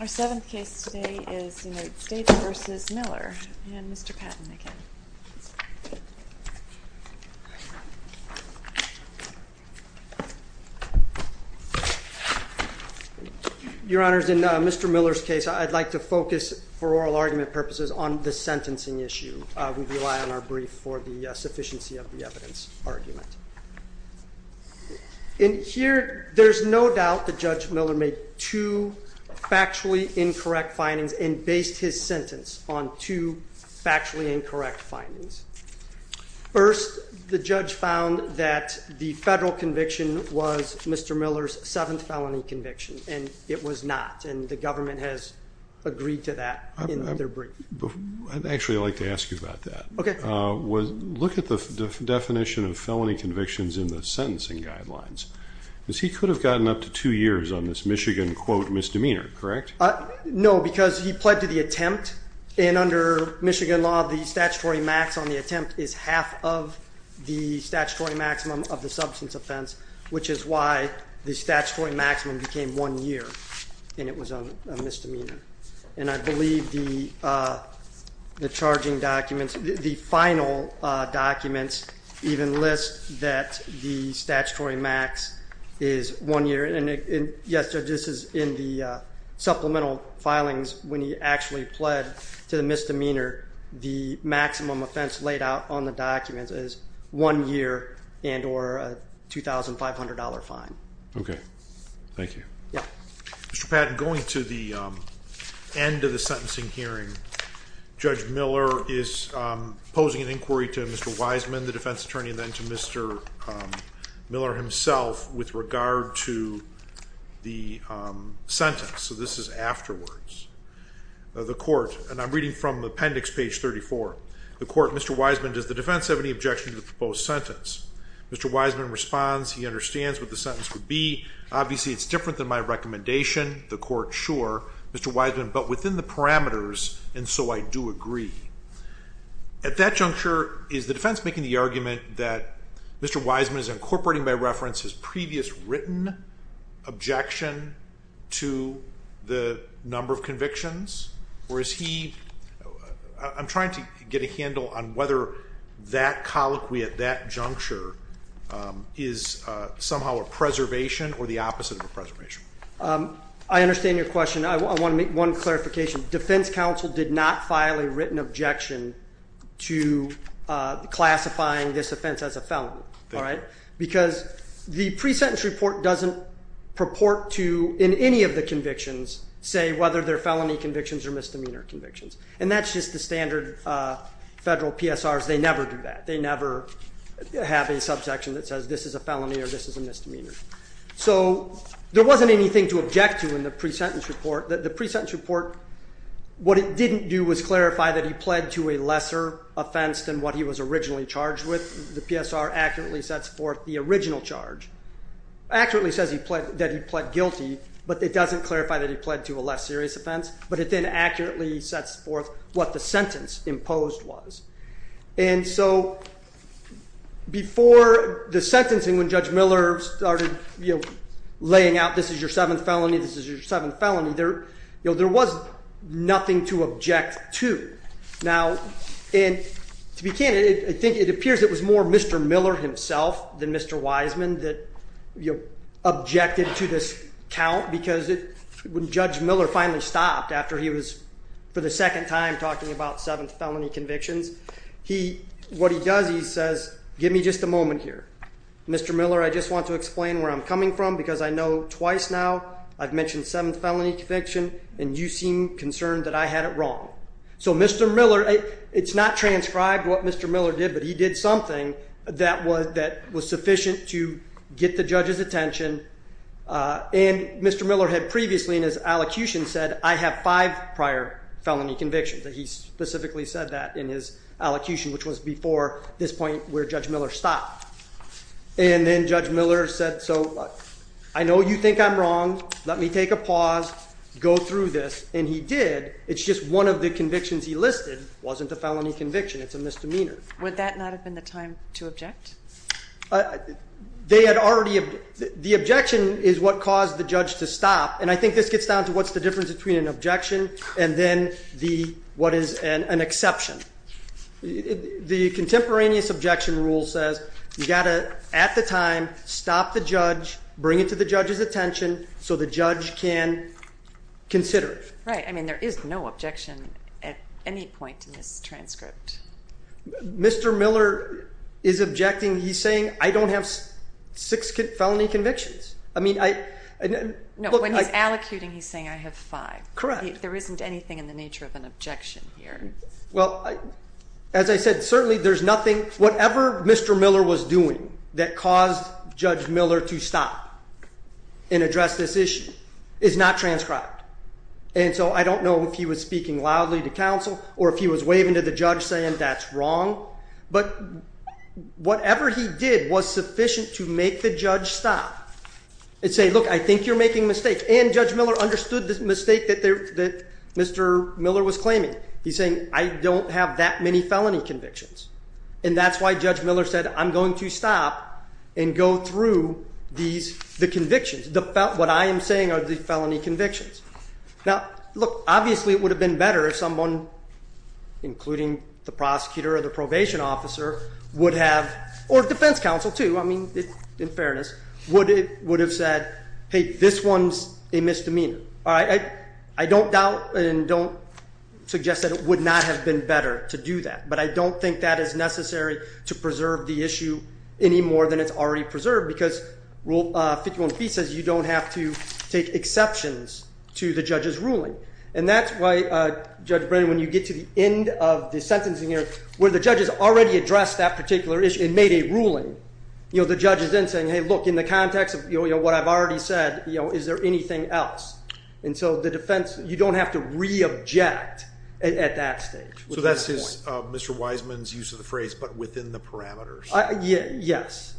Our seventh case today is United States v. Miller, and Mr. Patton again. Your Honors, in Mr. Miller's case, I'd like to focus, for oral argument purposes, on the In here, there's no doubt that Judge Miller made two factually incorrect findings and based his sentence on two factually incorrect findings. First, the judge found that the federal conviction was Mr. Miller's seventh felony conviction, and it was not, and the government has agreed to that in their brief. Actually, I'd like to ask you about that. Okay. Look at the definition of felony convictions in the sentencing guidelines, because he could have gotten up to two years on this Michigan, quote, misdemeanor, correct? No, because he pled to the attempt, and under Michigan law, the statutory max on the attempt is half of the statutory maximum of the substance offense, which is why the statutory maximum became one year, and it was a misdemeanor. And I believe the charging documents, the final documents even list that the statutory max is one year, and yes, Judge, this is in the supplemental filings when he actually pled to the misdemeanor, the maximum offense laid out on the documents is one year and or a $2,500 fine. Okay. Thank you. Yeah. Mr. Patton, going to the end of the sentencing hearing, Judge Miller is posing an inquiry to Mr. Wiseman, the defense attorney, and then to Mr. Miller himself with regard to the sentence, so this is afterwards. The court, and I'm reading from appendix page 34. The court, Mr. Wiseman, does the defense have any objection to the proposed sentence? Mr. Wiseman responds, he understands what the sentence would be, obviously it's different than my recommendation. The court, sure. Mr. Wiseman, but within the parameters, and so I do agree. At that juncture, is the defense making the argument that Mr. Wiseman is incorporating by reference his previous written objection to the number of convictions, or is he, I'm trying to get a handle on whether that colloquy at that juncture is somehow a preservation or the opposite of a preservation? I understand your question. I want to make one clarification. Defense counsel did not file a written objection to classifying this offense as a felony, all right? Because the pre-sentence report doesn't purport to, in any of the convictions, say whether they're felony convictions or misdemeanor convictions, and that's just the standard federal PSRs. They never do that. They never have a subsection that says this is a felony or this is a misdemeanor. So there wasn't anything to object to in the pre-sentence report. The pre-sentence report, what it didn't do was clarify that he pled to a lesser offense than what he was originally charged with. The PSR accurately sets forth the original charge, accurately says that he pled guilty, but it doesn't clarify that he pled to a less serious offense, but it then accurately sets forth what the sentence imposed was. And so before the sentencing, when Judge Miller started laying out this is your seventh felony, this is your seventh felony, there was nothing to object to. Now to be candid, I think it appears it was more Mr. Miller himself than Mr. Wiseman that objected to this count because when Judge Miller finally stopped after he was, for the He, what he does, he says, give me just a moment here. Mr. Miller, I just want to explain where I'm coming from because I know twice now I've mentioned seventh felony conviction and you seem concerned that I had it wrong. So Mr. Miller, it's not transcribed what Mr. Miller did, but he did something that was sufficient to get the judge's attention and Mr. Miller had previously in his allocution said I have five prior felony convictions and he specifically said that in his allocution which was before this point where Judge Miller stopped. And then Judge Miller said, so I know you think I'm wrong, let me take a pause, go through this and he did, it's just one of the convictions he listed wasn't a felony conviction, it's a misdemeanor. Would that not have been the time to object? They had already, the objection is what caused the judge to stop and I think this gets down to what's the difference between an objection and then the, what is an exception. The contemporaneous objection rule says you got to, at the time, stop the judge, bring it to the judge's attention so the judge can consider it. Right, I mean there is no objection at any point in this transcript. Mr. Miller is objecting, he's saying I don't have six felony convictions. I mean I, look I, no when he's allocuting he's saying I have five. Correct. There isn't anything in the nature of an objection here. Well as I said certainly there's nothing, whatever Mr. Miller was doing that caused Judge Miller to stop and address this issue is not transcribed and so I don't know if he was speaking loudly to counsel or if he was waving to the judge saying that's wrong but whatever he did was sufficient to make the judge stop and say look I think you're making a mistake and Judge Miller understood the mistake that Mr. Miller was claiming. He's saying I don't have that many felony convictions and that's why Judge Miller said I'm going to stop and go through these, the convictions, what I am saying are the felony convictions. Now look, obviously it would have been better if someone, including the prosecutor or the probation officer, would have, or defense counsel too, I mean in fairness, would have said hey this one's a misdemeanor. I don't doubt and don't suggest that it would not have been better to do that but I don't think that is necessary to preserve the issue any more than it's already preserved because Rule 51b says you don't have to take exceptions to the judge's ruling and that's why Judge Miller has already addressed that particular issue and made a ruling. The judge is then saying hey look in the context of what I've already said, is there anything else? And so the defense, you don't have to re-object at that stage. So that's Mr. Wiseman's use of the phrase but within the parameters. Yes.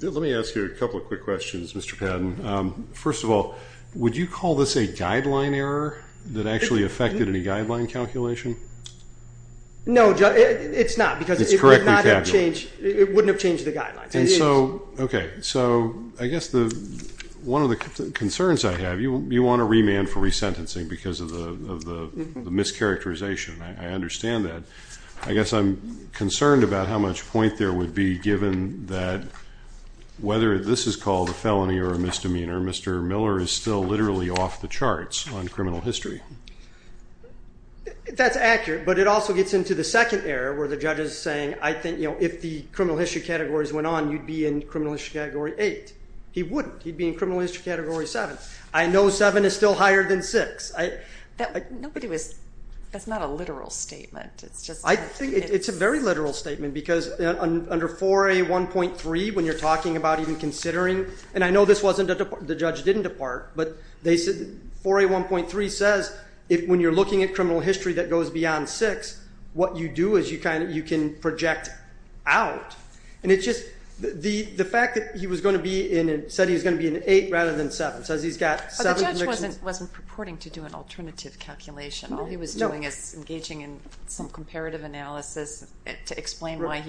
Let me ask you a couple of quick questions Mr. Patton. First of all, would you call this a guideline error that actually affected any guideline calculation? No, it's not because it would not have changed, it wouldn't have changed the guidelines. And so, okay, so I guess one of the concerns I have, you want a remand for resentencing because of the mischaracterization, I understand that, I guess I'm concerned about how much point there would be given that whether this is called a felony or a misdemeanor, Mr. Miller is still literally off the charts on criminal history. That's accurate, but it also gets into the second area where the judge is saying I think if the criminal history categories went on, you'd be in criminal history category 8. He wouldn't. He'd be in criminal history category 7. I know 7 is still higher than 6. That's not a literal statement. I think it's a very literal statement because under 4A1.3 when you're talking about even considering, and I know this wasn't, the judge didn't depart, but 4A1.3 says when you're looking at criminal history that goes beyond 6, what you do is you can project out. And it's just, the fact that he said he was going to be in 8 rather than 7, says he's got 7 convictions. But the judge wasn't purporting to do an alternative calculation, all he was doing is engaging in some comparative analysis to explain why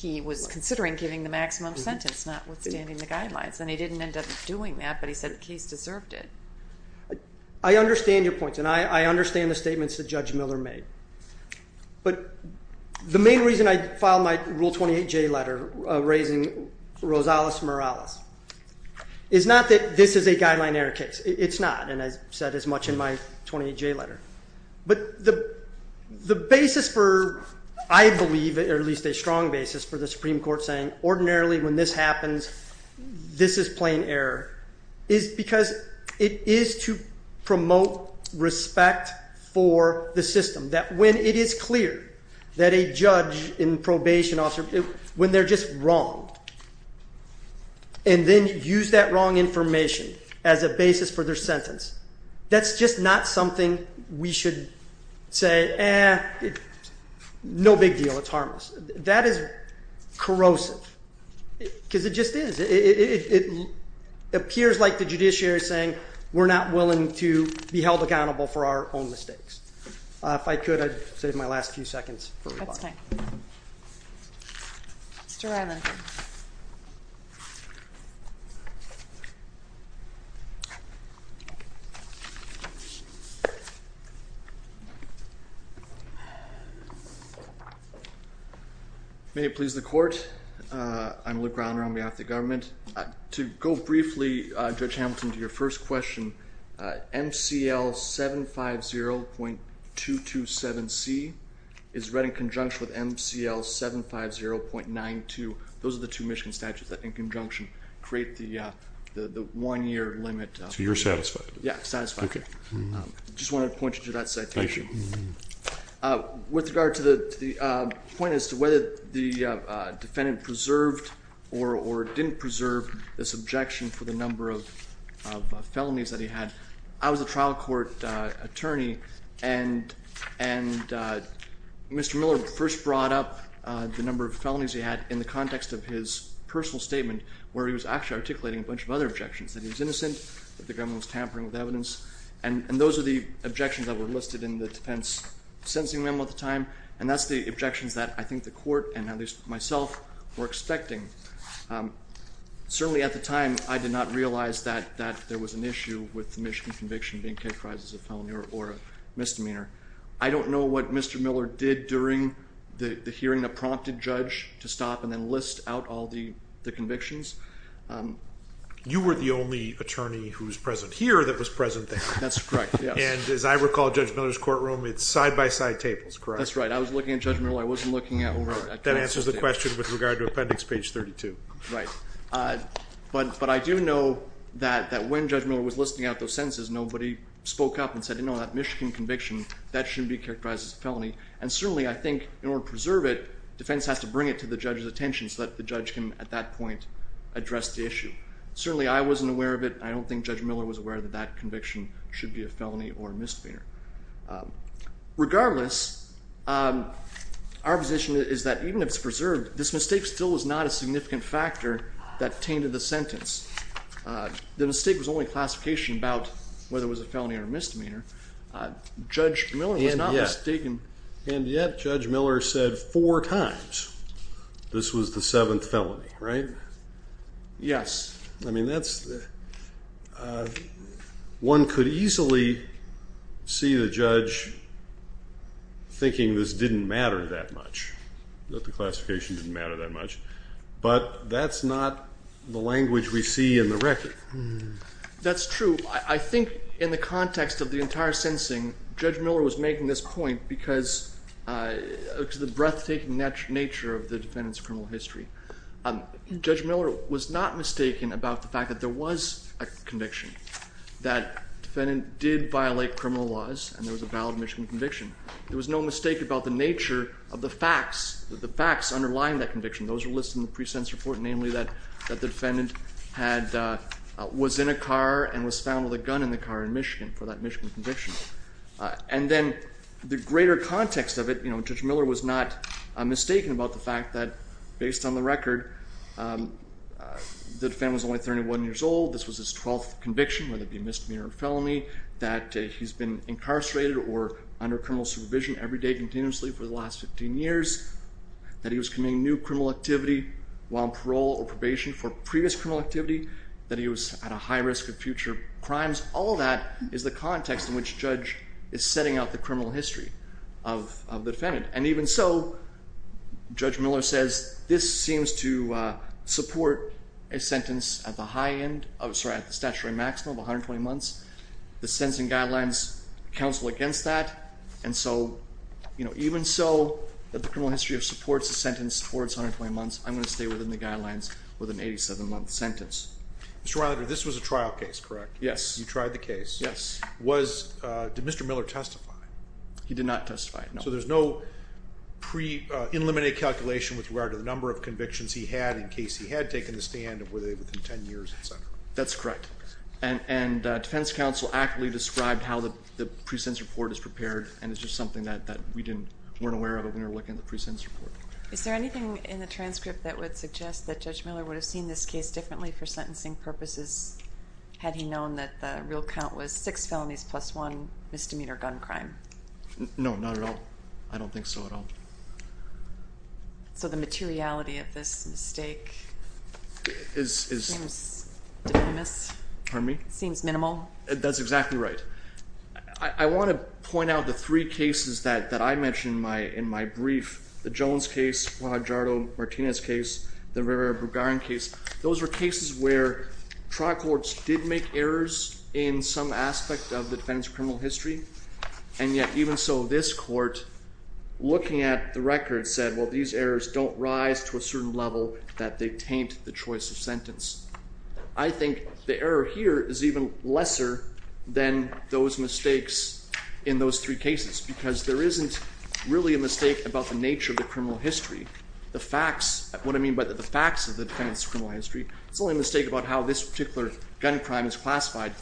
he was considering giving the maximum sentence, not withstanding the guidelines. And he didn't end up doing that, but he said the case deserved it. I understand your points, and I understand the statements that Judge Miller made. But the main reason I filed my Rule 28J letter raising Rosales-Morales is not that this is a guideline error case. It's not. And I said as much in my 28J letter. But the basis for, I believe, or at least a strong basis for the Supreme Court saying ordinarily when this happens, this is plain error, is because it is to promote respect for the system. That when it is clear that a judge in probation officer, when they're just wronged, and then use that wrong information as a basis for their sentence, that's just not something we should say, eh, no big deal, it's harmless. That is corrosive, because it just is. It appears like the judiciary is saying we're not willing to be held accountable for our own mistakes. If I could, I'd save my last few seconds for rebuttal. That's fine. Mr. Ryland. May it please the Court, I'm Luke Rylander on behalf of the government. To go briefly, Judge Hamilton, to your first question, MCL 750.227C is read in conjunction with MCL 750.92, those are the two Michigan statutes that in conjunction create the one year limit. So you're satisfied? Yeah, satisfied. Okay. Just wanted to point you to that citation. With regard to the point as to whether the defendant preserved or didn't preserve this objection for the number of felonies that he had, I was a trial court attorney, and Mr. Miller first brought up the number of felonies he had in the context of his personal statement where he was actually articulating a bunch of other objections, that he was innocent, that the government was tampering with evidence, and those are the objections that were listed in the defense sentencing memo at the time, and that's the objections that I think the court, and at least myself, were expecting. Certainly at the time, I did not realize that there was an issue with the Michigan conviction being characterized as a felony or a misdemeanor. I don't know what Mr. Miller did during the hearing that prompted Judge to stop and then list out all the convictions. You were the only attorney who was present here that was present there. That's correct, yes. And as I recall, Judge Miller's courtroom, it's side-by-side tables, correct? That's right. I was looking at Judge Miller. I wasn't looking at over at... That answers the question with regard to appendix page 32. Right. But I do know that when Judge Miller was listing out those sentences, nobody spoke up and said, no, that Michigan conviction, that shouldn't be characterized as a felony, and certainly I think in order to preserve it, defense has to bring it to the judge's attention so that the judge can, at that point, address the issue. Certainly I wasn't aware of it, and I don't think Judge Miller was aware that that conviction should be a felony or a misdemeanor. Regardless, our position is that even if it's preserved, this mistake still is not a significant factor that tainted the sentence. The mistake was only classification about whether it was a felony or a misdemeanor. Judge Miller was not mistaken. And yet, Judge Miller said four times this was the seventh felony, right? Yes. I mean, that's... One could easily see the judge thinking this didn't matter that much, that the classification didn't matter that much, but that's not the language we see in the record. That's true. I think in the context of the entire sentencing, Judge Miller was making this point because of the breathtaking nature of the defendant's criminal history. Judge Miller was not mistaken about the fact that there was a conviction, that defendant did violate criminal laws, and there was a valid Michigan conviction. There was no mistake about the nature of the facts underlying that conviction. Those are listed in the pre-sentence report, namely that the defendant was in a car and was found with a gun in the car in Michigan for that Michigan conviction. And then the greater context of it, Judge Miller was not mistaken about the fact that based on the record, the defendant was only 31 years old, this was his twelfth conviction whether it be misdemeanor or felony, that he's been incarcerated or under criminal supervision every day continuously for the last 15 years, that he was committing new criminal activity while on parole or probation for previous criminal activity, that he was at a high risk of future crimes. All of that is the context in which Judge is setting out the criminal history of the defendant. And even so, Judge Miller says, this seems to support a sentence at the high end of... of 120 months. The sentencing guidelines counsel against that. And so, you know, even so, that the criminal history of supports a sentence towards 120 months, I'm going to stay within the guidelines with an 87-month sentence. Mr. Rylander, this was a trial case, correct? Yes. You tried the case? Yes. Was... Did Mr. Miller testify? He did not testify, no. So there's no pre-eliminated calculation with regard to the number of convictions he had in case he had taken the stand of whether they were within 10 years, etc.? That's correct. And defense counsel accurately described how the pre-sentence report is prepared, and it's just something that we didn't... weren't aware of when we were looking at the pre-sentence report. Is there anything in the transcript that would suggest that Judge Miller would have seen this case differently for sentencing purposes had he known that the real count was six felonies plus one misdemeanor gun crime? No. Not at all. I don't think so at all. So the materiality of this mistake... Is... Seems... Dependent? Pardon me? Seems minimal? That's exactly right. I want to point out the three cases that I mentioned in my brief. The Jones case, Juan Jardo-Martinez case, the Rivera-Brugarn case. Those were cases where trial courts did make errors in some aspect of the defendant's criminal history, and yet even so, this court, looking at the record, said, well, these errors don't rise to a certain level that they taint the choice of sentence. I think the error here is even lesser than those mistakes in those three cases, because there isn't really a mistake about the nature of the criminal history. The facts... What I mean by the facts of the defendant's criminal history, it's only a mistake about how this particular gun crime is classified,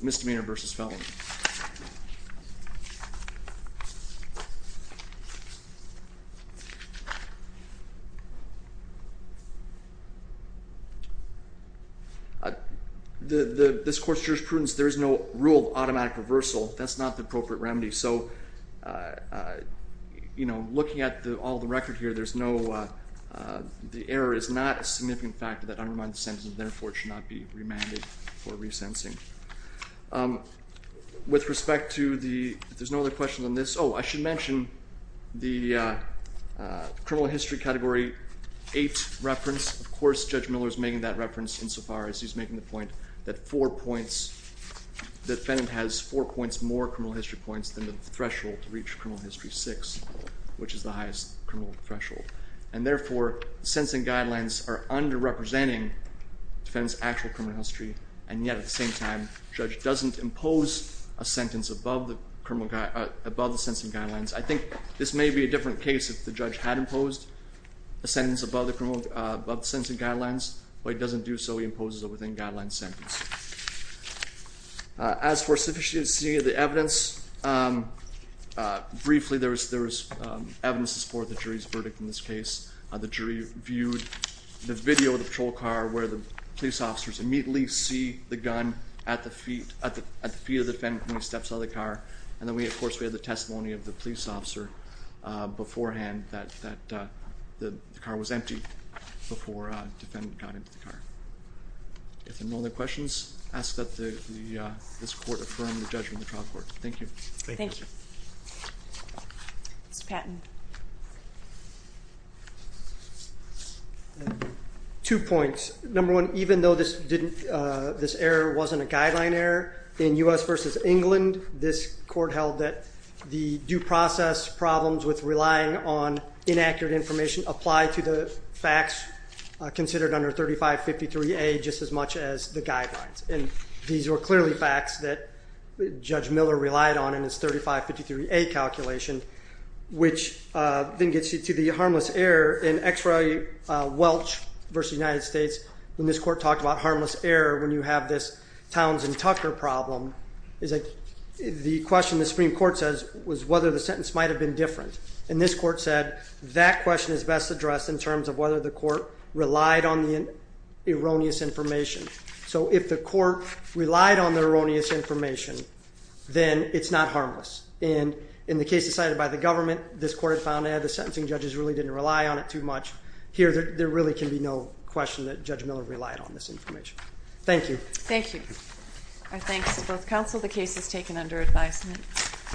misdemeanor versus felony. This court's jurisprudence, there is no rule of automatic reversal. That's not the appropriate remedy, so looking at all the record here, there's no... That undermines the sentence, and therefore it should not be remanded for resentencing. With respect to the... If there's no other questions on this... Oh, I should mention the criminal history category eight reference. Of course, Judge Miller's making that reference insofar as he's making the point that four points... That the defendant has four points more criminal history points than the threshold to reach criminal history six, which is the highest criminal threshold, and therefore sensing guidelines are under-representing the defendant's actual criminal history, and yet at the same time, the judge doesn't impose a sentence above the sentencing guidelines. I think this may be a different case if the judge had imposed a sentence above the sentencing guidelines, but he doesn't do so, he imposes a within-guidelines sentence. As for sufficiency of the evidence, briefly, there is evidence to support the jury's verdict in this case. The jury viewed the video of the patrol car where the police officers immediately see the gun at the feet of the defendant when he steps out of the car, and then we, of course, we have the testimony of the police officer beforehand that the car was empty before the defendant got into the car. If there are no other questions, I ask that this court affirm the judgment of the trial court. Thank you. Thank you. Mr. Patton. Two points. Number one, even though this error wasn't a guideline error, in U.S. v. England, this court held that the due process problems with relying on inaccurate information apply to the facts considered under 3553A just as much as the guidelines, and these were clearly facts that Judge Miller relied on in his 3553A calculation, which then gets you to the harmless error in X. Roy Welch v. United States when this court talked about harmless error when you have this Townsend-Tucker problem. The question the Supreme Court says was whether the sentence might have been different, and this court said that question is best addressed in terms of whether the court relied on the erroneous information. So if the court relied on the erroneous information, then it's not harmless, and in the case decided by the government, this court found that the sentencing judges really didn't rely on it too much. Here, there really can be no question that Judge Miller relied on this information. Thank you. Thank you. Our thanks to both counsel. The case is taken under advisement. Thank you.